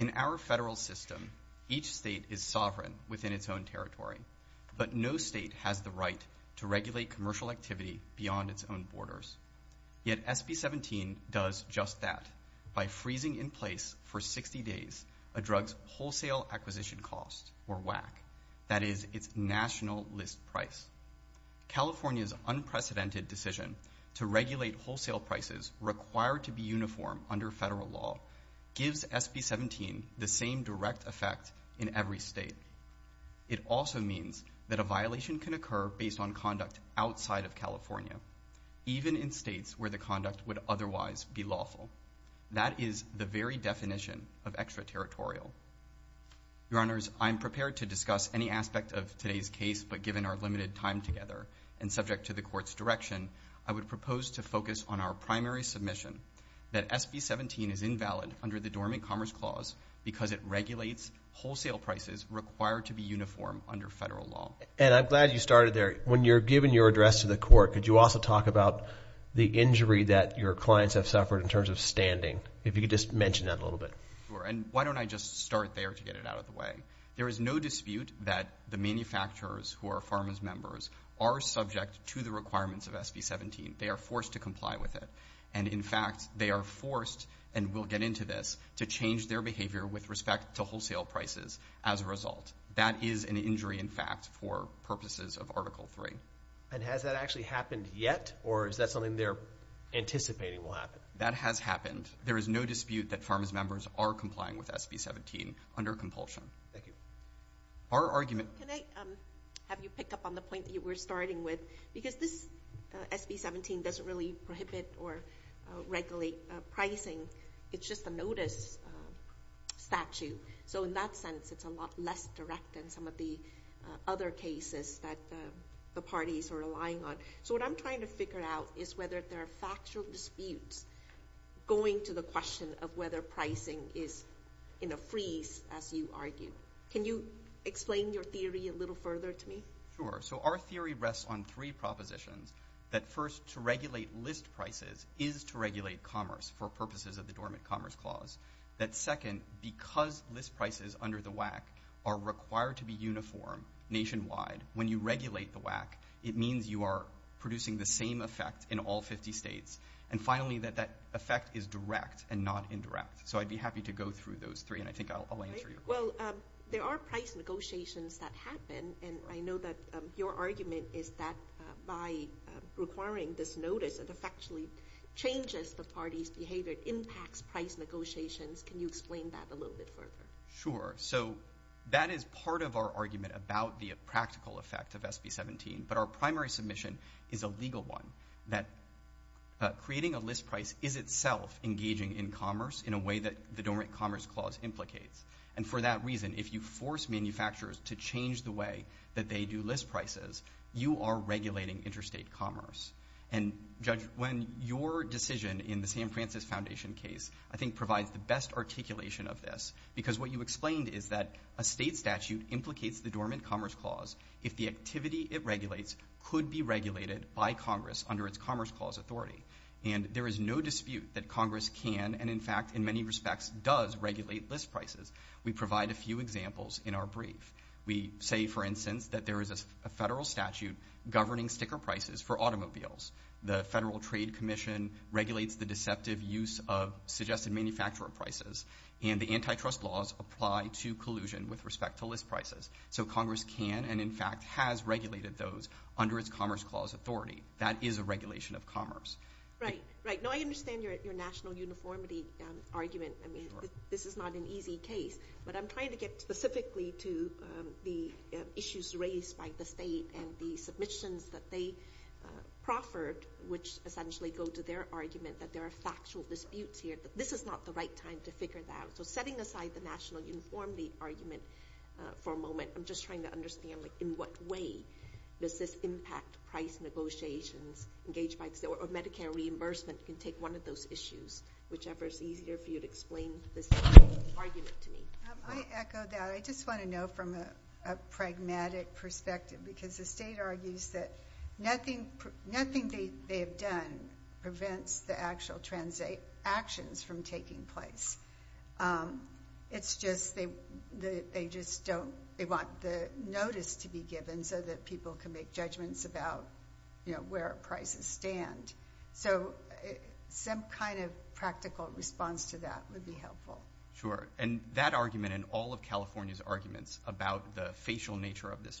In our federal system, each state is sovereign within its own territory, but no state has the right to regulate commercial activity beyond its own borders. Yet SB 17 does just that by freezing in place for 60 days a drug's wholesale acquisition cost, or WAC, that is its national list price. California's unprecedented decision to regulate wholesale prices required to be uniform under federal law gives SB 17 the same direct effect in every state. It also means that a violation can occur based on conduct outside of California, even in is the very definition of extraterritorial. Your Honors, I am prepared to discuss any aspect of today's case, but given our limited time together, and subject to the Court's direction, I would propose to focus on our primary submission that SB 17 is invalid under the Dormant Commerce Clause because it regulates wholesale prices required to be uniform under federal law. And I'm glad you started there. When you're giving your address to the Court, could you also talk about the injury that your clients have suffered in terms of standing? If you could just mention that a little bit. And why don't I just start there to get it out of the way? There is no dispute that the manufacturers who are pharma's members are subject to the requirements of SB 17. They are forced to comply with it. And in fact, they are forced, and we'll get into this, to change their behavior with respect to wholesale prices as a result. That is an injury in fact for purposes of Article 3. And has that actually happened yet? Or is that something they're anticipating will happen? That has happened. There is no dispute that pharma's members are complying with SB 17 under compulsion. Thank you. Our argument— Can I have you pick up on the point that you were starting with? Because this SB 17 doesn't really prohibit or regulate pricing. It's just a notice statute. So in that sense, it's a lot less direct than some of the other cases that the parties are relying on. So what I'm trying to figure out is whether there are factual disputes going to the question of whether pricing is in a freeze, as you argue. Can you explain your theory a little further to me? Sure. So our theory rests on three propositions. That first, to regulate list prices is to regulate commerce for purposes of the Dormant Commerce Clause. That second, because list prices under the WAC are required to be uniform nationwide, when you regulate the WAC, it means you are producing the same effect in all 50 states. And finally, that that effect is direct and not indirect. So I'd be happy to go through those three, and I think I'll answer your question. Well, there are price negotiations that happen, and I know that your argument is that by requiring this notice, it effectually changes the party's behavior, impacts price negotiations. Can you explain that a little bit further? Sure. So that is part of our argument about the practical effect of SB 17, but our primary submission is a legal one, that creating a list price is itself engaging in commerce in a way that the Dormant Commerce Clause implicates. And for that reason, if you force manufacturers to change the way that they do list prices, you are regulating interstate commerce. And Judge, when your decision in the San Francisco Foundation case, I think, provides the best articulation of this, because what you explained is that a state statute implicates the Dormant Commerce Clause if the activity it regulates could be regulated by Congress under its Commerce Clause authority. And there is no dispute that Congress can, and in fact, in many respects, does regulate list prices. We provide a few examples in our brief. We say, for instance, that there is a federal statute governing sticker prices for automobiles. The Federal Trade Commission regulates the deceptive use of suggested manufacturer prices, and the antitrust laws apply to collusion with respect to list prices. So Congress can, and in fact, has regulated those under its Commerce Clause authority. That is a regulation of commerce. Right. Right. No, I understand your national uniformity argument. I mean, this is not an easy case. But I'm trying to get specifically to the issues raised by the state and the state reserved, which essentially go to their argument that there are factual disputes here. But this is not the right time to figure that out. So setting aside the national uniformity argument for a moment, I'm just trying to understand, like, in what way does this impact price negotiations engaged by the state? Or Medicare reimbursement can take one of those issues, whichever is easier for you to explain this argument to me. I echo that. I just want to know from a pragmatic perspective, because the state argues that nothing they have done prevents the actual transactions from taking place. It's just they just don't, they want the notice to be given so that people can make judgments about, you know, where prices stand. So some kind of practical response to that would be helpful. Sure. And that argument and all of California's arguments about the facial nature of this is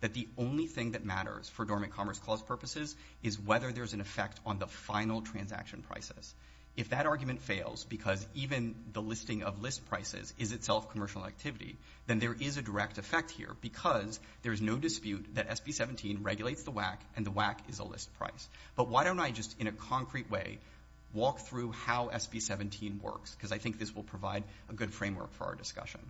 that the only thing that matters for dormant commerce clause purposes is whether there's an effect on the final transaction prices. If that argument fails, because even the listing of list prices is itself commercial activity, then there is a direct effect here, because there's no dispute that SB 17 regulates the WAC and the WAC is a list price. But why don't I just in a concrete way walk through how SB 17 works, because I think this will provide a good framework for our discussion.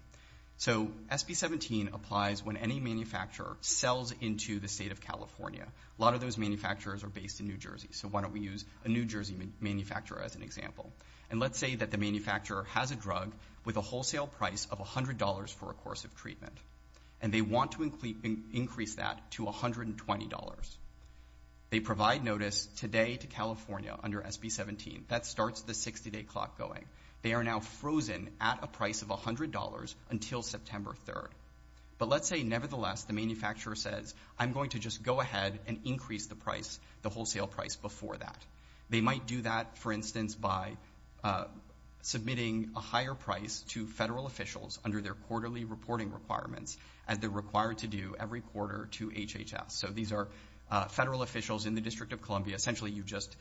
So SB 17 applies when any manufacturer sells into the state of California. A lot of those manufacturers are based in New Jersey. So why don't we use a New Jersey manufacturer as an example. And let's say that the manufacturer has a drug with a wholesale price of $100 for a course of treatment, and they want to increase that to $120. They provide notice today to California under SB 17. That starts the 60-day clock going. They are now frozen at a price of $100 until September 3rd. But let's say, nevertheless, the manufacturer says, I'm going to just go ahead and increase the wholesale price before that. They might do that, for instance, by submitting a higher price to federal officials under their quarterly reporting requirements, as they're required to do every quarter to HHS. So these are federal officials in the District of Columbia. Essentially, you just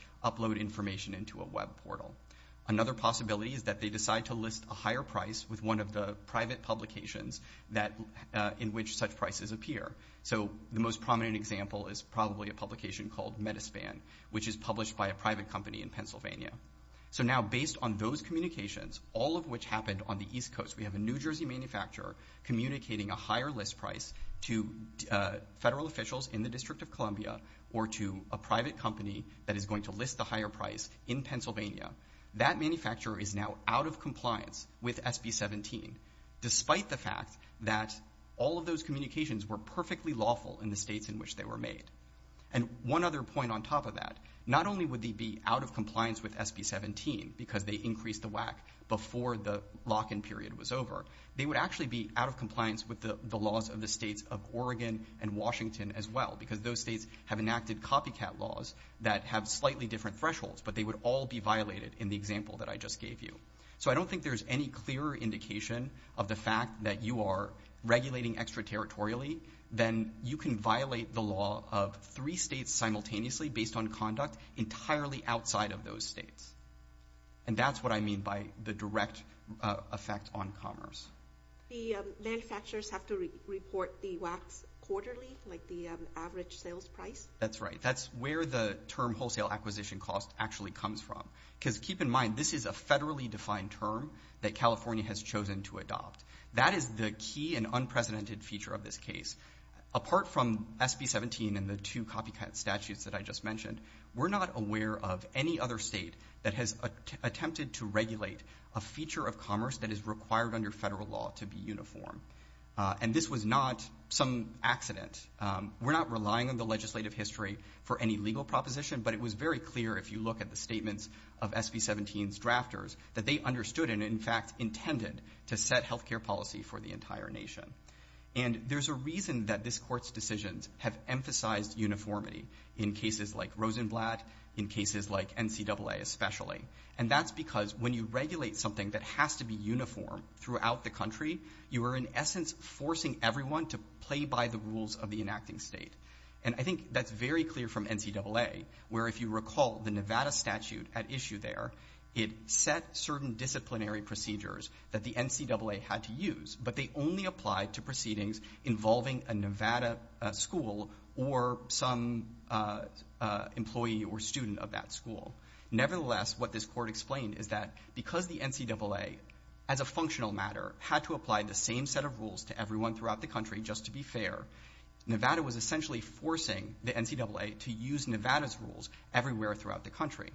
have the possibility that they decide to list a higher price with one of the private publications in which such prices appear. So the most prominent example is probably a publication called Metaspan, which is published by a private company in Pennsylvania. So now, based on those communications, all of which happened on the East Coast, we have a New Jersey manufacturer communicating a higher list price to federal officials in the District of Columbia or to a private company that is going to list the higher price in Pennsylvania. That manufacturer is now out of compliance with SB-17, despite the fact that all of those communications were perfectly lawful in the states in which they were made. And one other point on top of that, not only would they be out of compliance with SB-17 because they increased the WAC before the lock-in period was over, they would actually be out of compliance with the laws of the states of Oregon and Washington as well, because those states have I just gave you. So I don't think there's any clearer indication of the fact that you are regulating extraterritorially than you can violate the law of three states simultaneously based on conduct entirely outside of those states. And that's what I mean by the direct effect on commerce. The manufacturers have to report the WACs quarterly, like the average sales price? That's right. That's where the term wholesale acquisition cost actually comes from. Because keep in mind, this is a federally defined term that California has chosen to adopt. That is the key and unprecedented feature of this case. Apart from SB-17 and the two copycat statutes that I just mentioned, we're not aware of any other state that has attempted to regulate a feature of commerce that is required under federal law to be uniform. And this was not some accident. We're not relying on the legislative history for any legal proposition, but it was very clear if you look at the statements of SB-17's drafters that they understood and in fact intended to set health care policy for the entire nation. And there's a reason that this court's decisions have emphasized uniformity in cases like Rosenblatt, in cases like NCAA especially. And that's because when you regulate something that has to be uniform throughout the country, you are in essence forcing everyone to play by the rules of the enacting state. And I think that's very clear from NCAA, where if you recall the Nevada statute at issue there, it set certain disciplinary procedures that the NCAA had to use, but they only applied to proceedings involving a Nevada school or some employee or student of that school. Nevertheless, what this court explained is that because the NCAA as a functional matter had to apply the same set of rules to everyone throughout the country just to be fair, Nevada was essentially forcing the NCAA to use Nevada's rules everywhere throughout the country.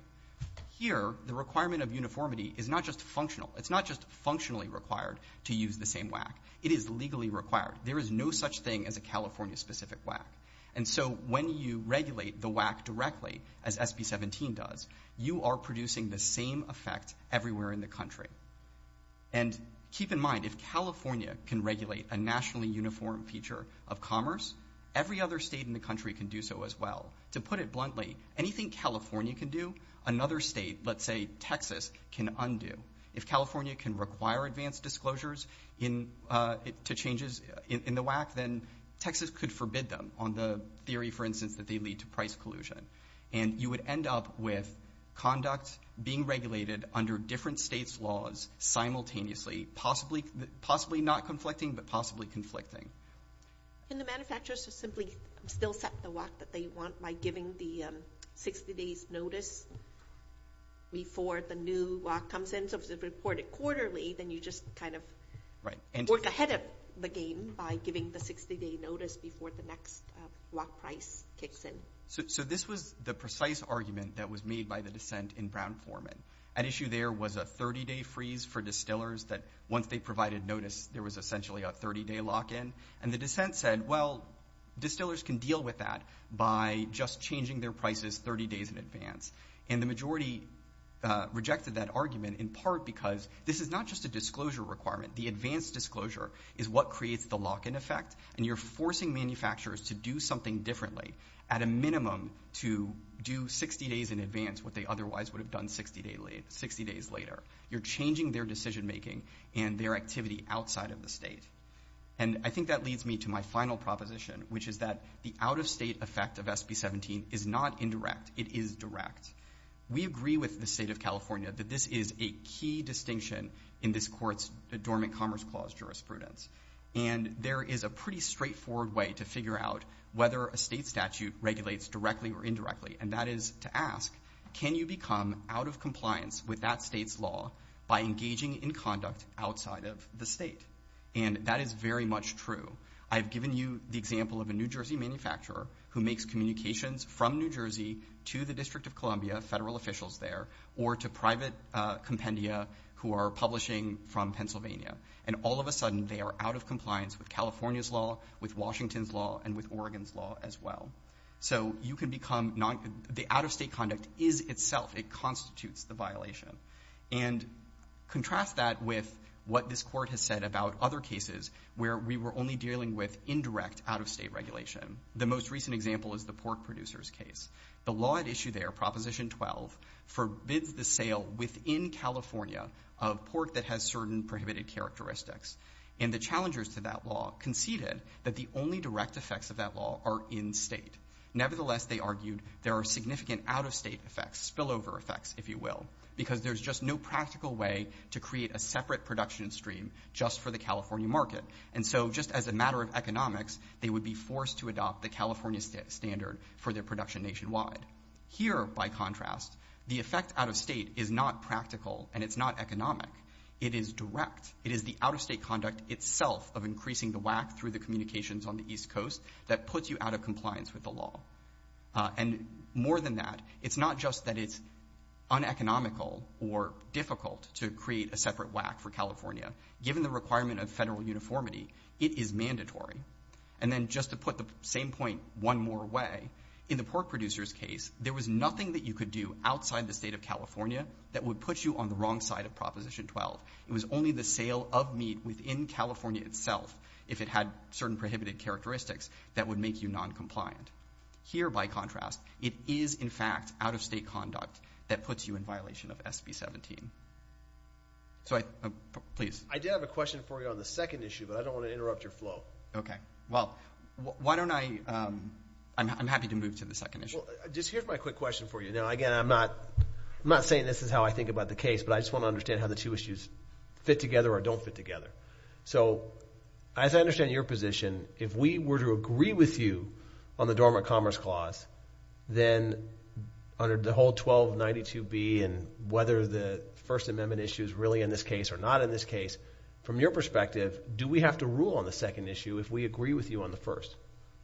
Here, the requirement of uniformity is not just functional. It's not just functionally required to use the same WAC. It is legally required. There is no such thing as a California-specific WAC. And so when you regulate the WAC directly as SB 17 does, you are producing the same effect everywhere in the country. And keep in mind, if California can regulate a nationally uniform feature of commerce, every other state in the country can do so as well. To put it bluntly, anything California can do, another state, let's say Texas, can undo. If California can require advanced disclosures to changes in the WAC, then Texas could forbid them on the theory, for instance, that they lead to and you would end up with conduct being regulated under different states' laws simultaneously, possibly not conflicting, but possibly conflicting. And the manufacturers would simply still set the WAC that they want by giving the 60 days notice before the new WAC comes in. So if it's reported quarterly, then you just kind of work ahead of the game by giving the 60-day notice before the next WAC price kicks in. So this was the precise argument that was made by the dissent in Brown-Foreman. At issue there was a 30-day freeze for distillers that once they provided notice, there was essentially a 30-day lock-in. And the dissent said, well, distillers can deal with that by just changing their prices 30 days in advance. And the majority rejected that argument in part because this is not just a disclosure requirement. The advanced disclosure is what creates the lock-in effect, and you're forcing manufacturers to do something differently at a minimum to do 60 days in advance what they otherwise would have done 60 days later. You're changing their decision-making and their activity outside of the state. And I think that leads me to my final proposition, which is that the out-of-state effect of SB17 is not indirect. It is direct. We agree with the state of California that this is a key distinction in this court's Dormant Commerce Clause jurisprudence. And there is a pretty straightforward way to figure out whether a state statute regulates directly or indirectly, and that is to ask, can you become out of compliance with that state's law by engaging in conduct outside of the state? And that is very much true. I've given you the example of a New Jersey manufacturer who makes communications from New Jersey to the District of Columbia, federal officials there, or to private compendia who are publishing from Pennsylvania. And all of a sudden, they are out of compliance with California's law, with Washington's law, and with Oregon's law as well. So you can become—the out-of-state conduct is itself—it constitutes the violation. And contrast that with what this court has said about other cases where we were only dealing with indirect out-of-state regulation. The most recent example is the pork producers case. The law at issue there, Proposition 12, forbids the sale within California of pork that has certain prohibited characteristics. And the challengers to that law conceded that the only direct effects of that law are in-state. Nevertheless, they argued there are significant out-of-state effects, spillover effects, if you will, because there's just no practical way to create a separate production stream just for the California market. And so just as a matter of economics, they would be forced to adopt the California standard for their production nationwide. Here, by contrast, the effect out-of-state is not practical, and it's not economic. It is direct. It is the out-of-state conduct itself of increasing the whack through the communications on the East Coast that puts you out of compliance with the law. And more than that, it's not just that it's uneconomical or difficult to create a separate whack for California. Given the requirement of federal uniformity, it is mandatory. And then just to put the same point one more way, in the pork producer's case, there was nothing that you could do outside the state of California that would put you on the wrong side of Proposition 12. It was only the sale of meat within California itself, if it had certain prohibited characteristics, that would make you noncompliant. Here, by contrast, it is, in fact, out-of-state conduct that puts you in violation of SB 17. So, please. I did have a question for you on the second issue, but I don't want to interrupt your flow. Okay. Well, why don't I – I'm happy to move to the second issue. Just here's my quick question for you. Now, again, I'm not saying this is how I think about the case, but I just want to understand how the two issues fit together or don't fit together. So, as I understand your position, if we were to agree with you on the Dormant Commerce Clause, then under the whole 1292B and whether the First Amendment issue is really in this case or not in this case, from your perspective, do we have to rule on the second issue if we agree with you on the first?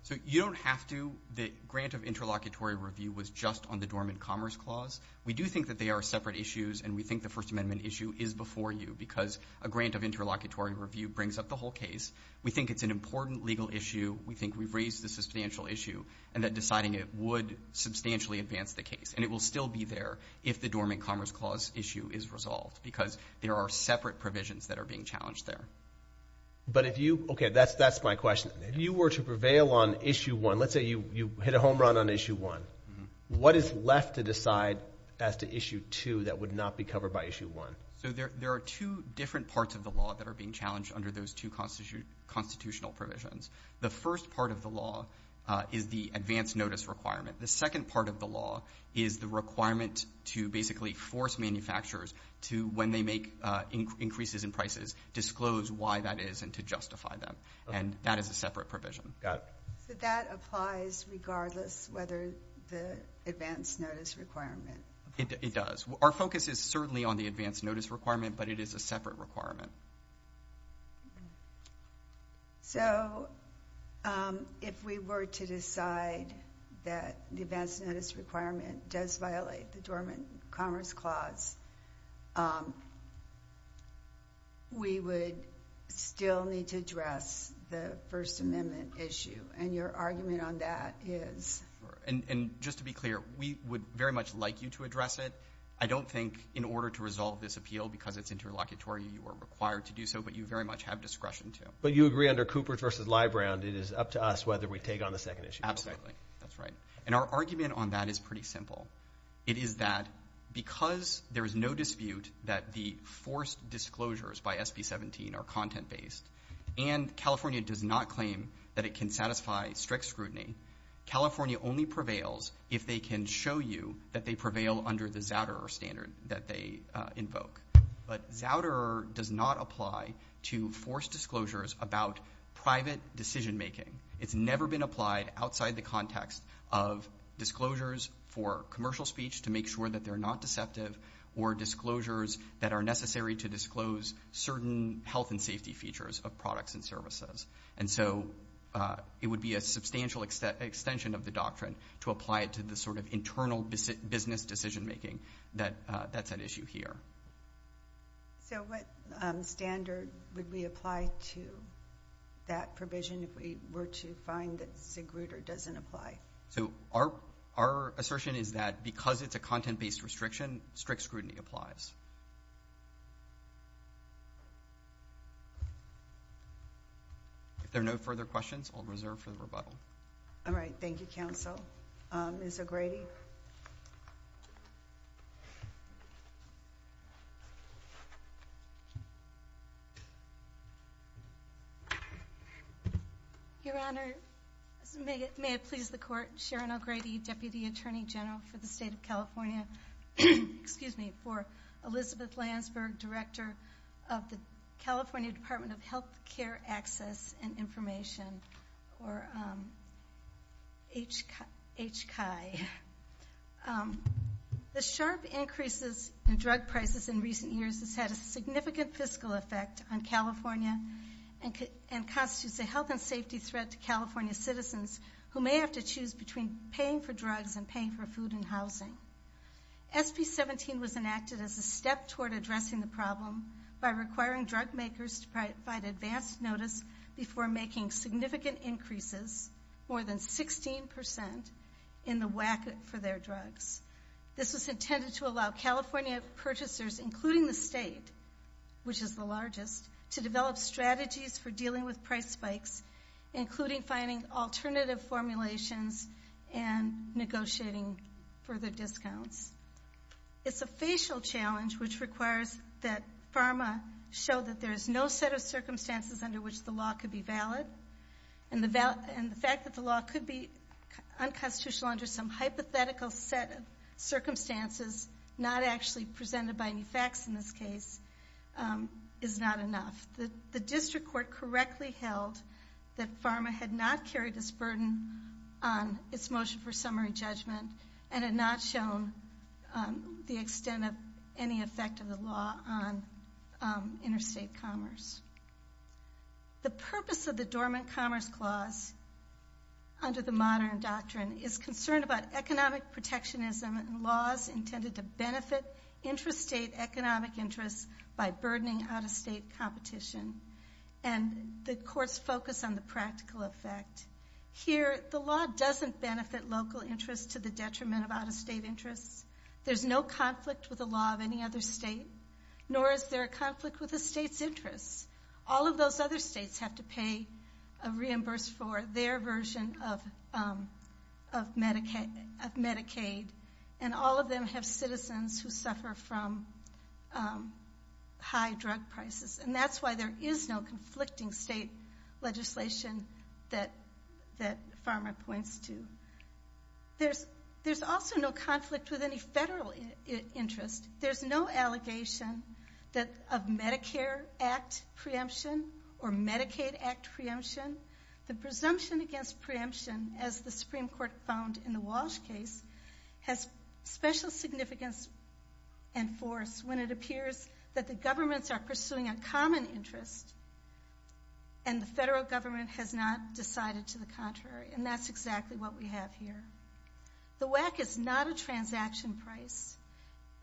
So, you don't have to. The grant of interlocutory review was just on the Dormant Commerce Clause. We do think that they are separate issues, and we think the First Amendment issue is before you, because a grant of interlocutory review brings up the whole case. We think it's an important legal issue. We think we've raised a substantial issue, and that deciding it would substantially advance the case. And it will still be there if the Dormant Commerce Clause is in effect, but there are separate provisions that are being challenged there. But if you, okay, that's my question. If you were to prevail on Issue 1, let's say you hit a home run on Issue 1, what is left to decide as to Issue 2 that would not be covered by Issue 1? So, there are two different parts of the law that are being challenged under those two constitutional provisions. The first part of the law is the advance notice requirement. When they make increases in prices, disclose why that is and to justify them. And that is a separate provision. Got it. So, that applies regardless whether the advance notice requirement? It does. Our focus is certainly on the advance notice requirement, but it is a separate requirement. So, if we were to decide that the advance notice requirement does violate the Dormant Commerce Clause, we would still need to address the First Amendment issue. And your argument on that is? Sure. And just to be clear, we would very much like you to address it. I don't think in order to resolve this appeal, because it's interlocutory, you are required to do so, but you very much have discretion to. But you agree under Coopers v. Leibrand, it is up to us whether we take on the second issue. Absolutely. That's right. And our argument on that is pretty simple. It is that because there is no dispute that the forced disclosures by SB 17 are content-based and California does not claim that it can satisfy strict scrutiny, California only prevails if they can show you that they prevail under the Zouderer standard that they invoke. But Zouderer does not apply to forced disclosures about private decision-making. It's never been applied outside the context of disclosures for commercial speech to make sure that they're not deceptive or disclosures that are necessary to disclose certain health and safety features of products and services. And so, it would be a substantial extension of the doctrine to apply it to this sort of internal business decision-making. That's an issue here. So, what standard would we apply to that provision if we were to find that Zouderer doesn't apply? So, our assertion is that because it's a content-based restriction, strict scrutiny applies. If there are no further questions, I'll reserve for the rebuttal. All right. Thank you, Counsel. Ms. O'Grady. Your Honor, may it please the Court, Sharon O'Grady, Deputy Attorney General for the State of California. Excuse me, for Elizabeth Landsberg, Director of the California Department of Health. H. Chi. The sharp increases in drug prices in recent years has had a significant fiscal effect on California and constitutes a health and safety threat to California citizens who may have to choose between paying for drugs and paying for food and housing. SB 17 was enacted as a step toward addressing the problem by requiring drug makers to provide advanced notice before making significant increases, more than 16%, in the whack for their drugs. This was intended to allow California purchasers, including the state, which is the largest, to develop strategies for dealing with price spikes, including finding alternative formulations and negotiating further discounts. It's a facial challenge, which requires that PhRMA show that there is no set of circumstances under which the law could be valid, and the fact that the law could be unconstitutional under some hypothetical set of circumstances, not actually presented by any facts in this case, is not enough. The district court correctly held that PhRMA had not carried this burden on its motion for summary judgment and had not shown the extent of any effect of the law on interstate commerce. The purpose of the Dormant Commerce Clause, under the modern doctrine, is concerned about economic protectionism and laws intended to benefit interstate economic interests by burdening out-of-state competition, and the courts focus on the practical effect. Here, the law doesn't benefit local interests to the detriment of out-of-state interests. There's no conflict with the law of any other state, nor is there a conflict with the state's interests. All of those other states have to pay a reimbursement for their version of Medicaid, and all of them have citizens who suffer from high drug prices, and that's why there is no conflicting state legislation that PhRMA points to. There's also no conflict with any federal interest. There's no allegation of Medicare Act preemption or Medicaid Act preemption. The presumption against preemption, as the and force when it appears that the governments are pursuing a common interest and the federal government has not decided to the contrary, and that's exactly what we have here. The WACC is not a transaction price,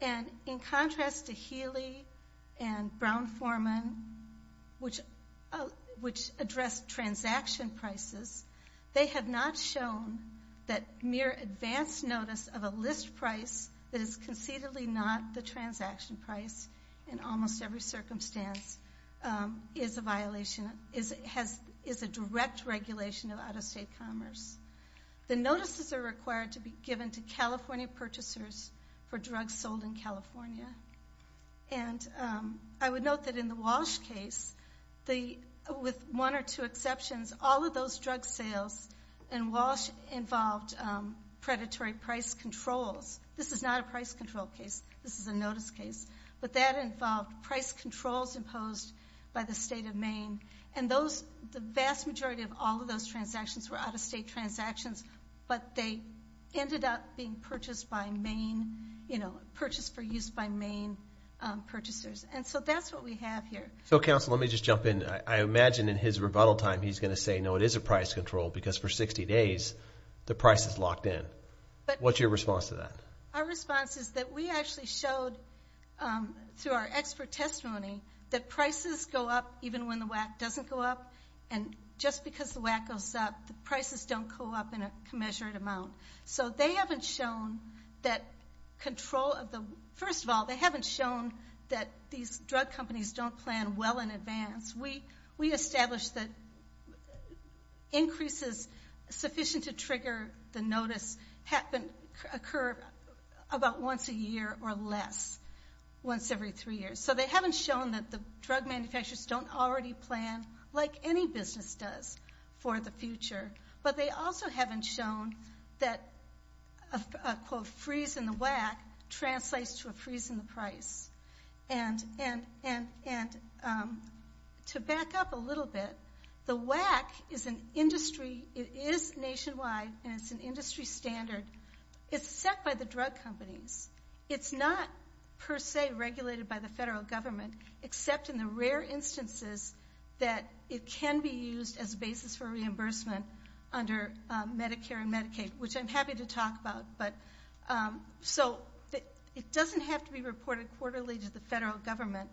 and in contrast to Healy and Brown-Forman, which address transaction prices, they have not shown that mere advance notice of a list price that is concededly not the transaction price in almost every circumstance is a direct regulation of out-of-state commerce. The notices are required to be given to California purchasers for drugs sold in California, and I would note that in the Walsh case, with one or two This is not a price control case. This is a notice case, but that involved price controls imposed by the state of Maine, and the vast majority of all of those transactions were out-of-state transactions, but they ended up being purchased for use by Maine purchasers, and so that's what we have here. So, counsel, let me just jump in. I imagine in his rebuttal time he's going to say, because for 60 days, the price is locked in. What's your response to that? Our response is that we actually showed, through our expert testimony, that prices go up even when the WACC doesn't go up, and just because the WACC goes up, the prices don't go up in a commensurate amount. So they haven't shown that control of the—first of all, they haven't shown that these drug companies don't plan well in advance. We establish that increases sufficient to trigger the notice occur about once a year or less, once every three years. So they haven't shown that the drug manufacturers don't already plan like any business does for the future, but they also haven't shown that a, quote, freeze in the WACC translates to a freeze in the price. And to back up a little bit, the WACC is an industry—it is nationwide, and it's an industry standard. It's set by the drug companies. It's not, per se, regulated by the federal government, except in the rare instances that it can be used as a basis for reimbursement under Medicare and Medicaid, which I'm happy to talk about. So it doesn't have to be reported quarterly to the federal government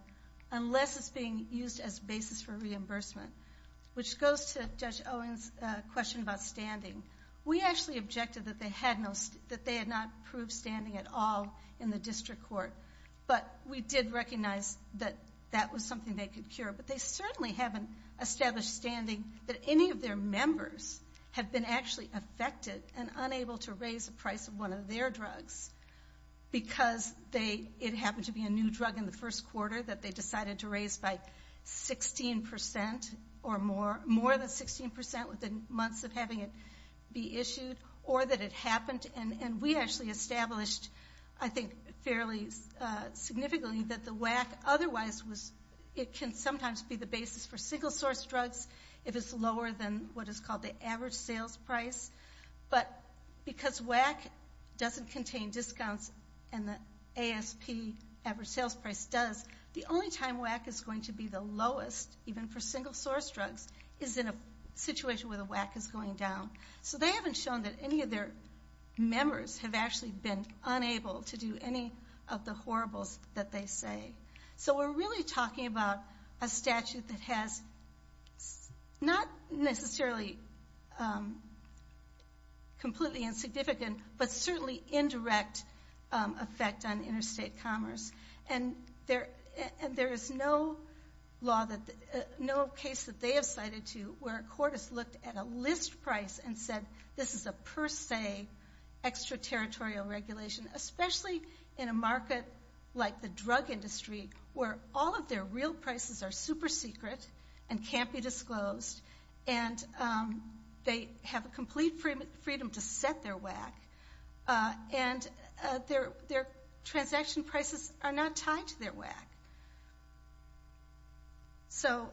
unless it's being used as a basis for reimbursement, which goes to Judge Owen's question about standing. We actually objected that they had no—that they had not proved standing at all in the district court, but we did recognize that that was something they could cure. But they have been actually affected and unable to raise the price of one of their drugs because they—it happened to be a new drug in the first quarter that they decided to raise by 16 percent or more—more than 16 percent within months of having it be issued, or that it happened, and we actually established, I think, fairly significantly that the WACC otherwise was—it can sometimes be the basis for single-source drugs if it's lower than what is called the average sales price, but because WACC doesn't contain discounts and the ASP average sales price does, the only time WACC is going to be the lowest, even for single-source drugs, is in a situation where the WACC is going down. So they haven't shown that any of their members have actually been unable to do any of the horribles that they say. So we're really talking about a statute that has not necessarily completely insignificant, but certainly indirect effect on interstate commerce. And there is no law that—no case that they have cited to where a court has looked at a list price and said this is a per se, extraterritorial regulation, especially in a market like the drug industry where all of their real prices are super secret and can't be disclosed, and they have a complete freedom to set their WACC, and their transaction prices are not tied to their WACC. So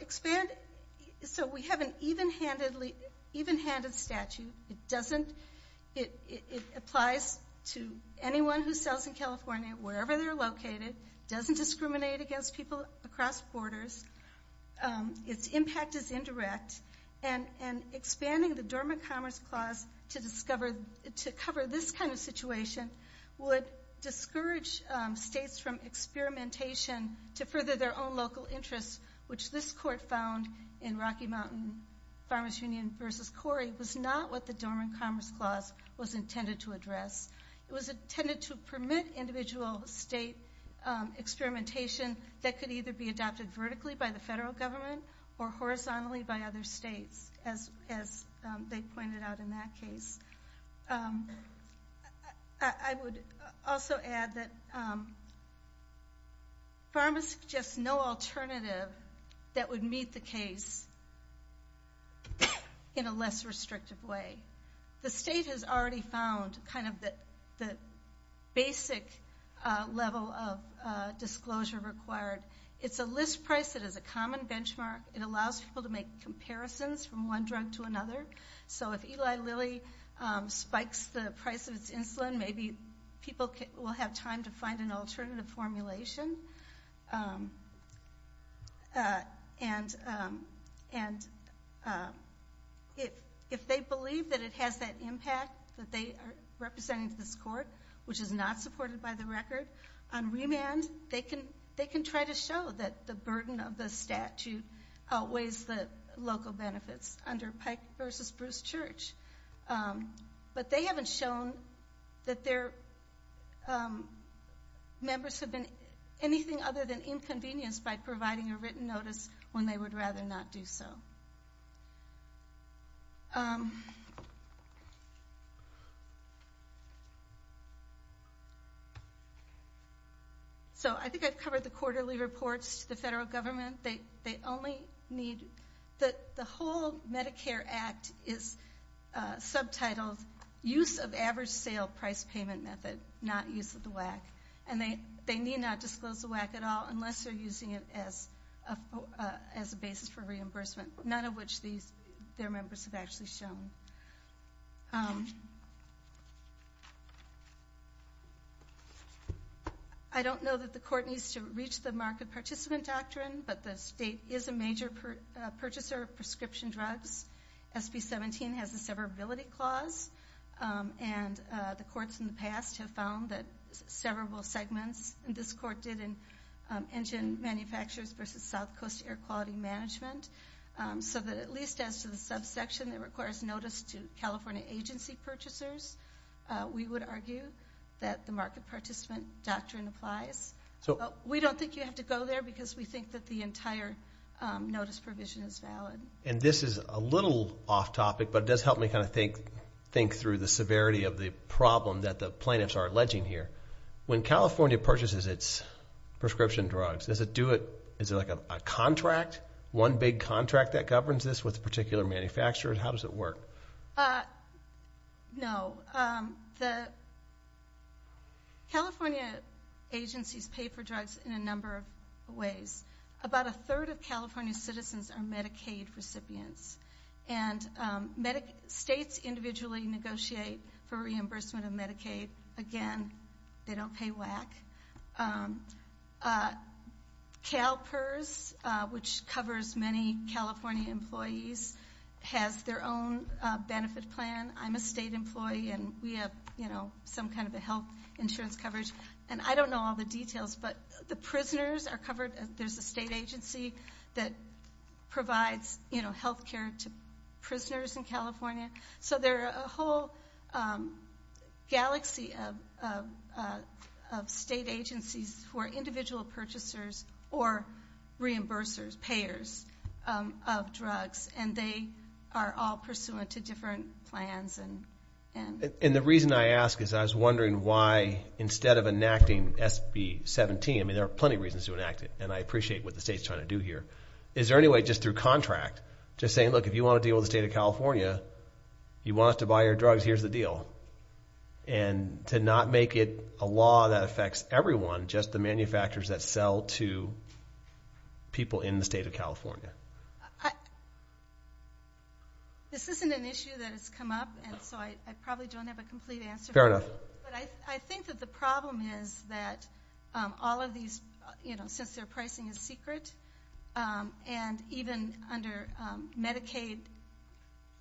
expand—so we have an even-handed statute. It doesn't—it applies to anyone who sells in California, wherever they're located, doesn't discriminate against people across borders, its impact is indirect, and expanding the Dormant Commerce Clause to discover—to cover this kind of situation would discourage states from experimentation to further their own local interests, which this court found in Rocky Mountain Farmers Union v. Corey was not what the Dormant Commerce Clause was intended to address. It was intended to permit individual state experimentation that could either be adopted vertically by the federal government or horizontally by other states, as they pointed out in that case. I would also add that PhRMA suggests no alternative that would meet the case in a less restrictive way. The state has already found kind of the basic level of disclosure required. It's a list price that is a common benchmark. It allows people to make comparisons from one drug to another. So if Eli Lilly spikes the price of its insulin, maybe people will have time to find an alternative formulation. And if they believe that it has that impact that they are representing to this court, which is not supported by the record, on remand they can try to show that the burden of the statute outweighs the local benefits under Pike v. Bruce Church. But they haven't shown that their members have been anything other than inconvenienced by providing a written notice when they would rather not do so. I think I've covered the quarterly reports to the federal government. The whole Medicare Act is subtitled Use of Average Sale Price Payment Method, Not Use of the WAC. And they need not disclose the WAC at all unless they are using it as a basis for reimbursement, none of which their members have actually shown. I don't know that the court needs to reach the market participant doctrine, but the state is a major purchaser of prescription drugs. SB 17 has a severability clause, and the courts in the past have found that severable segments, and this court did in engine manufacturers versus South Coast Air Quality Management, so that at least as to the subsection that requires notice to California agency purchasers, we would argue that the market participant doctrine applies. We don't think you have to go there because we think that the entire notice provision is valid. And this is a little off topic, but it does help me kind of think through the severity of the problem that the plaintiffs are alleging here. When California purchases its prescription drugs, is it like a contract, one big contract that governs this with a particular manufacturer? How does it work? No. The California agencies pay for drugs in a number of ways. About a third of California citizens are Medicaid recipients, and states individually negotiate for reimbursement of CalPERS, which covers many California employees, has their own benefit plan. I'm a state employee, and we have some kind of a health insurance coverage, and I don't know all the details, but the prisoners are covered. There's a state agency that provides health care to prisoners in California. So there are a whole galaxy of state agencies who are individual purchasers or reimbursers, payers of drugs, and they are all pursuant to different plans. And the reason I ask is I was wondering why, instead of enacting SB 17, I mean, there are plenty of reasons to enact it, and I appreciate what the state's trying to do here. Is there California, you want us to buy your drugs, here's the deal. And to not make it a law that affects everyone, just the manufacturers that sell to people in the state of California. This isn't an issue that has come up, and so I probably don't have a complete answer for you. Fair enough. But I think that the problem is that all of these, you know, since their pricing is secret, and even under Medicaid,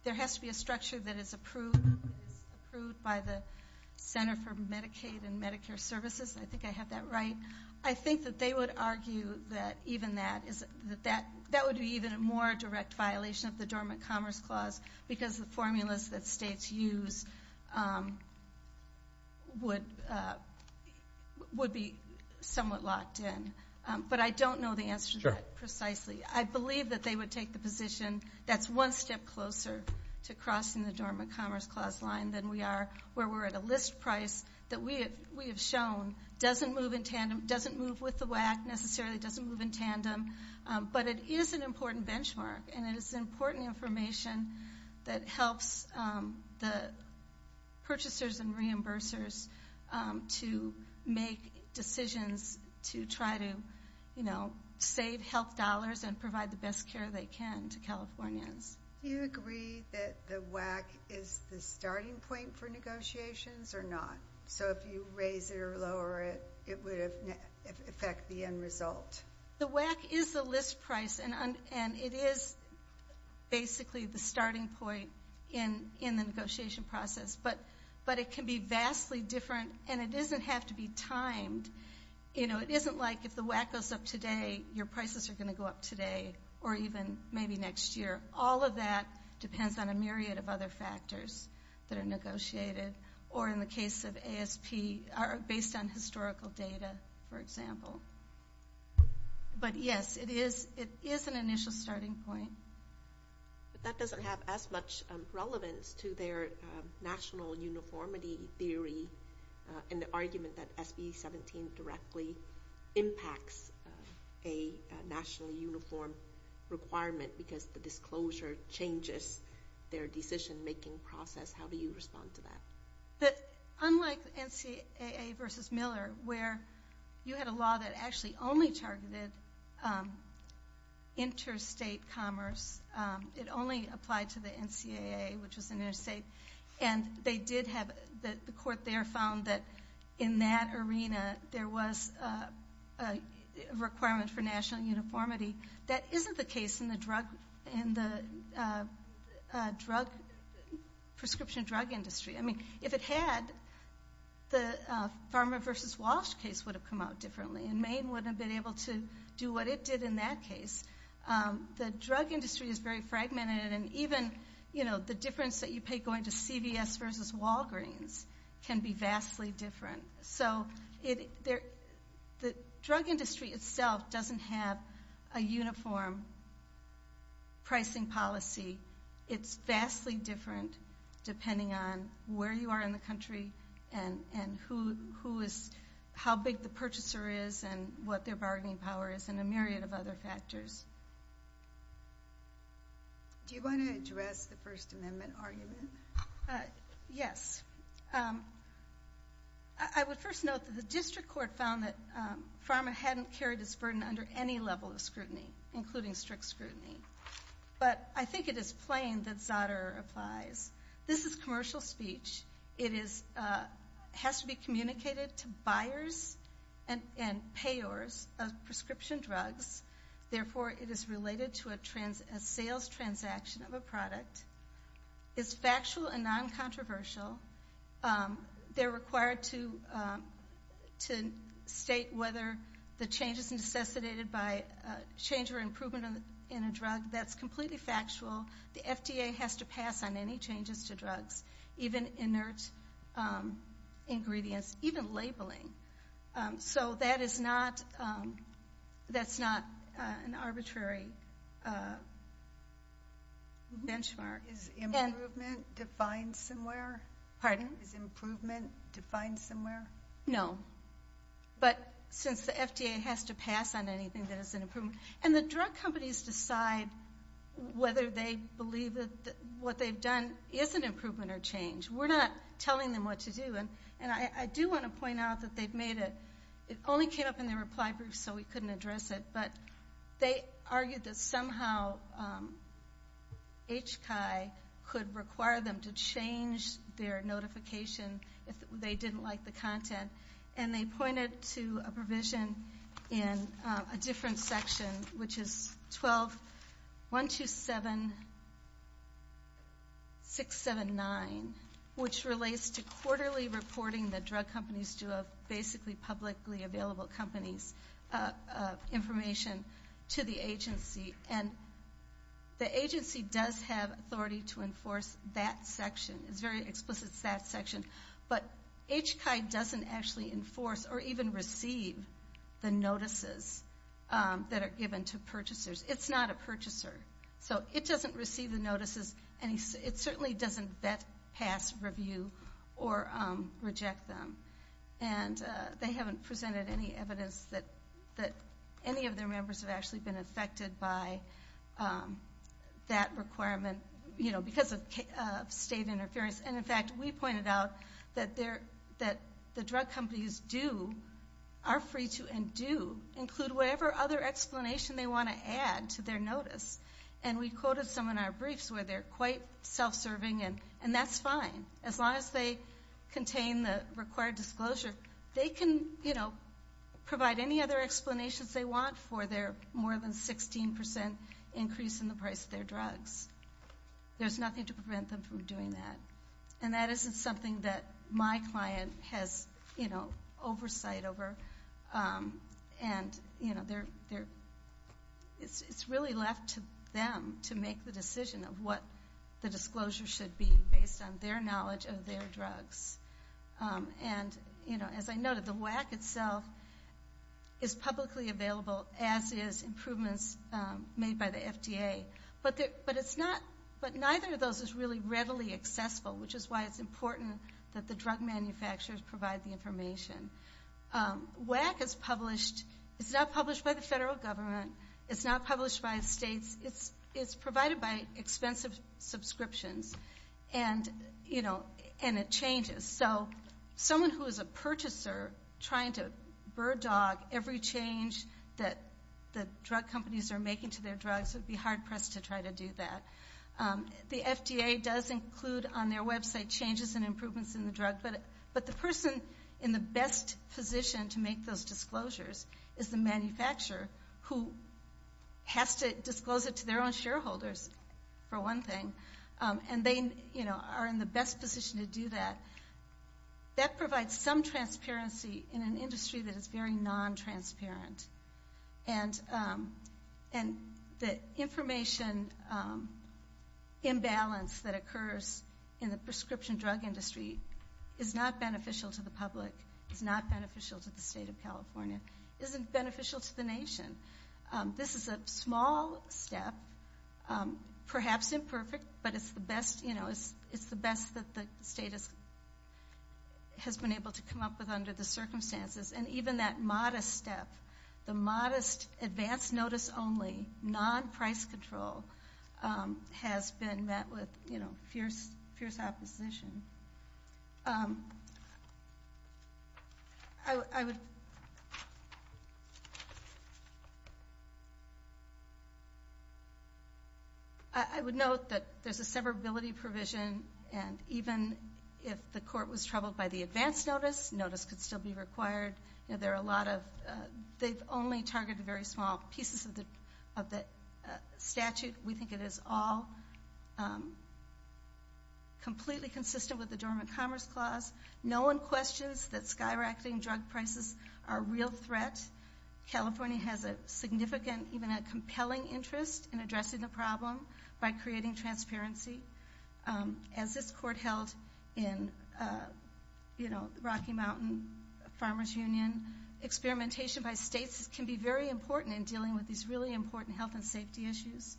there has to be a structure that is approved by the Center for Medicaid and Medicare Services, and I think I have that right. I think that they would argue that even that, that would be even a more direct violation of the Dormant Commerce Clause, because the formulas that states use would be somewhat locked in. But I don't know the answer to that precisely. Sure. I believe that they would take the position that's one step closer to crossing the Dormant Commerce Clause line than we are, where we're at a list price that we have shown doesn't move in tandem, doesn't move with the WAC necessarily, doesn't move in tandem. But it is an important benchmark, and it is important information that helps the purchasers and providers to, you know, save health dollars and provide the best care they can to Californians. Do you agree that the WAC is the starting point for negotiations or not? So if you raise it or lower it, it would affect the end result? The WAC is the list price, and it is basically the starting point in the negotiation process. But it can be vastly different, and it doesn't have to be timed. You know, it isn't like if the WAC goes up today, your prices are going to go up today, or even maybe next year. All of that depends on a myriad of other factors that are negotiated, or in the case of ASP, based on historical data, for example. But yes, it is an initial starting point. But that doesn't have as much relevance to their national uniformity theory, and the argument that SB 17 directly impacts a national uniform requirement because the disclosure changes their decision-making process. How do you respond to that? Unlike NCAA versus Miller, where you had a law that actually only targeted interstate commerce, it only applied to the NCAA, which was an interstate, and the court there found that in that arena, there was a requirement for national uniformity. That isn't the case in the prescription drug industry. I mean, if it had, the Pharma versus Walsh case would have come out differently, and Maine wouldn't have been able to do what it did in that case. The drug industry is very fragmented, and even the difference that you pay going to CVS versus Walgreens can be vastly different. So the drug industry itself doesn't have a uniform pricing policy. It's vastly different depending on where you are in the country and how big the purchaser is and what their bargaining power is and a myriad of other factors. Do you want to address the First Amendment argument? Yes. I would first note that the district court found that Pharma hadn't carried this level of scrutiny, including strict scrutiny. But I think it is plain that Zotter applies. This is commercial speech. It has to be communicated to buyers and payors of prescription drugs. Therefore, it is related to a sales transaction of a product. It's factual and non-controversial. They're required to state whether the change is necessitated by change or improvement in a drug. That's completely factual. The FDA has to pass on any changes to drugs, even inert ingredients, even labeling. So that is not an arbitrary benchmark. Is improvement defined somewhere? No. But since the FDA has to pass on anything that is an improvement. And the drug companies decide whether they believe that what they've done is an improvement or change. We're not telling them what to do. And I do want to point out that they've made it. It only came up in their reply brief, so we couldn't address it. But they argued that somehow HCI could require them to change their notification if they didn't like the content. And they pointed to a provision in a different section, which is 12-127-679, which relates to quarterly reporting that drug companies do of basically publicly available companies' information to the agency. And the agency does have authority to enforce that section. It's very explicit, it's that section. But HCI doesn't actually enforce or even receive the notices that are given to purchasers. It's not a purchaser. So it doesn't receive the notices. And it certainly doesn't vet, pass, review, or reject them. And they haven't presented any evidence that any of their members have actually been affected by that requirement, you know, because of state interference. And, in fact, we pointed out that the drug companies do, are free to, and do include whatever other explanation they want to add to their notice. And we quoted some in our briefs where they're quite self-serving, and that's fine. As long as they contain the required disclosure, they can, you know, provide any other explanations they want for their more than 16% increase in the price of their drugs. There's nothing to prevent them from doing that. And that isn't something that my client has, you know, oversight over. And, you know, it's really left to them to make the decision of what the disclosure should be based on their knowledge of their drugs. And, you know, as I noted, the WAC itself is publicly available, as is improvements made by the FDA. But it's not, but neither of those is really readily accessible, which is why it's important that the drug manufacturers provide the information. WAC is published, it's not published by the federal government. It's not published by states. It's provided by expensive subscriptions. And, you know, and it changes. So someone who is a purchaser trying to bird dog every change that the drug companies are making to their drugs would be hard pressed to try to do that. The FDA does include on their website changes and improvements in the drug. But the person in the best position to make those disclosures is the manufacturer who has to disclose it to their own shareholders, for one thing. And they, you know, are in the best position to do that. That provides some transparency in an industry that is very non-transparent. And the information imbalance that occurs in the prescription drug industry is not beneficial to the public, is not beneficial to the state of California, isn't beneficial to the nation. This is a small step, perhaps imperfect, but it's the best, you know, it's the best that the state has been able to come up with under the circumstances. And even that modest step, the modest advance notice only, non-price control, has been met with, you know, fierce opposition. I would note that there's a severability provision, and even if the court was troubled by the advance notice, notice could still be required. There are a lot of, they've only targeted very small pieces of the statute. We think it is all completely consistent with the Dormant Commerce Clause. No one questions that skyrocketing drug prices are a real threat. California has a significant, even a compelling interest in addressing the problem by creating transparency. As this court held in, you know, Rocky Mountain Farmers Union, experimentation by states can be very important in dealing with these really important health and safety issues.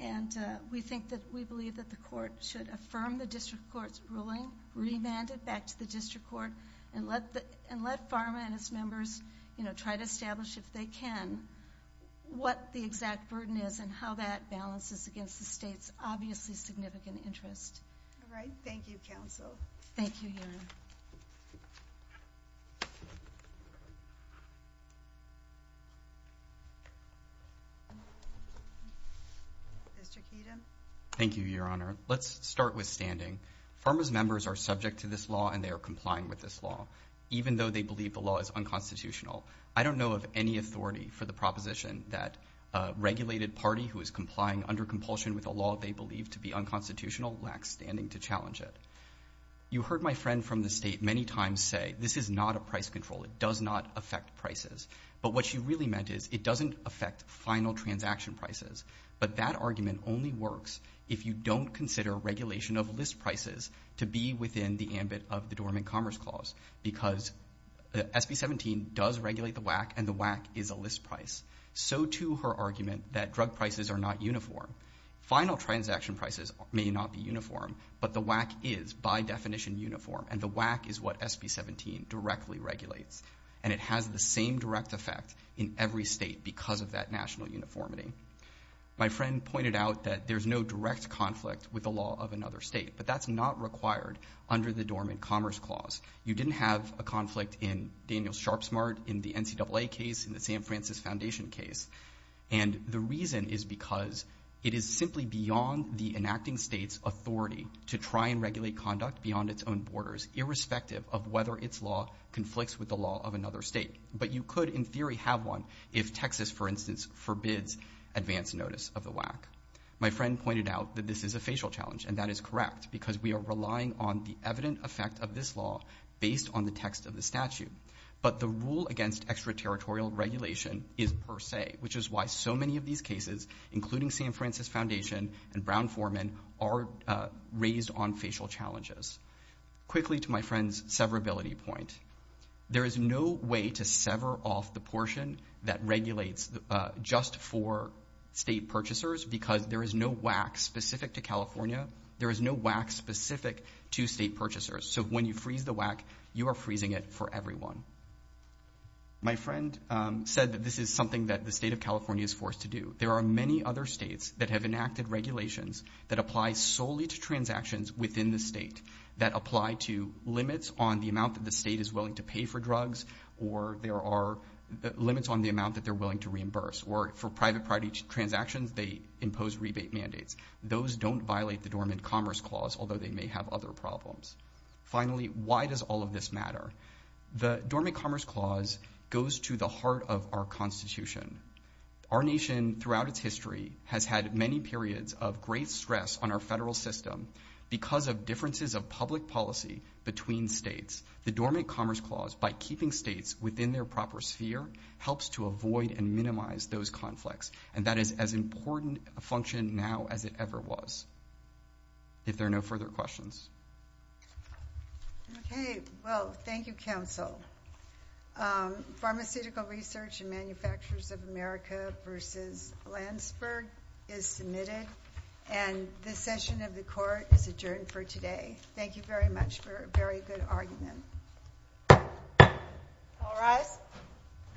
And we think that, we believe that the court should affirm the district court's ruling, remand it back to the district court, and let PhRMA and its members, you know, try to establish, if they can, what the exact burden is and how that balances against the state's obviously significant interest. All right. Thank you, counsel. Thank you, Your Honor. Mr. Keeton. Thank you, Your Honor. Let's start with standing. PhRMA's members are subject to this law and they are complying with this law, even though they believe the law is unconstitutional. I don't know of any authority for the proposition that a regulated party who is complying under compulsion with a law they believe to be unconstitutional lacks standing to challenge it. You heard my friend from the state many times say, this is not a price control. It does not affect prices. But what she really meant is, it doesn't affect final transaction prices. But that argument only works if you don't consider regulation of list prices to be within the ambit of the Dormant Commerce Clause, because SB-17 does regulate the WAC and the WAC is a list price. So, too, her argument that drug prices are not uniform. Final transaction prices may not be uniform, but the WAC is, by definition, uniform, and the WAC is what SB-17 directly regulates. And it has the same direct effect in every state because of that national uniformity. My friend pointed out that there's no direct conflict with the law of another state, but that's not required under the Dormant Commerce Clause. You didn't have a conflict in Daniel Sharpsmart, in the NCAA case, in the San Francisco Foundation case. And the reason is because it is simply beyond the enacting state's authority to try and regulate conduct beyond its own borders, irrespective of whether its law conflicts with the law of another state. But you could, in theory, have one if Texas, for instance, forbids advance notice of the WAC. My friend pointed out that this is a facial challenge, and that is correct, because we are relying on the evident effect of this law based on the text of the statute. But the rule against extraterritorial regulation is per se, which is why so many of these cases, including San Francisco Foundation and Brown Foreman, are raised on facial challenges. Quickly to my friend's severability point. There is no way to sever off the portion that regulates just for state purchasers because there is no WAC specific to California. There is no WAC specific to state purchasers. So when you freeze the WAC, you are freezing it for everyone. My friend said that this is something that the state of California is forced to do. There are many other states that have enacted regulations that apply solely to transactions within the state that apply to limits on the amount that the state is willing to pay for drugs or there are limits on the amount that they're willing to reimburse. Or for private party transactions, they impose rebate mandates. Those don't violate the Dormant Commerce Clause, although they may have other problems. Finally, why does all of this matter? The Dormant Commerce Clause goes to the heart of our Constitution. Our nation throughout its history has had many periods of great stress on our federal system because of differences of public policy between states. The Dormant Commerce Clause, by keeping states within their proper sphere, helps to avoid and minimize those conflicts, and that is as important a function now as it ever was. If there are no further questions. Okay. Well, thank you, counsel. Pharmaceutical Research and Manufacturers of America v. Landsberg is submitted, and this session of the court is adjourned for today. Thank you very much for a very good argument. All rise.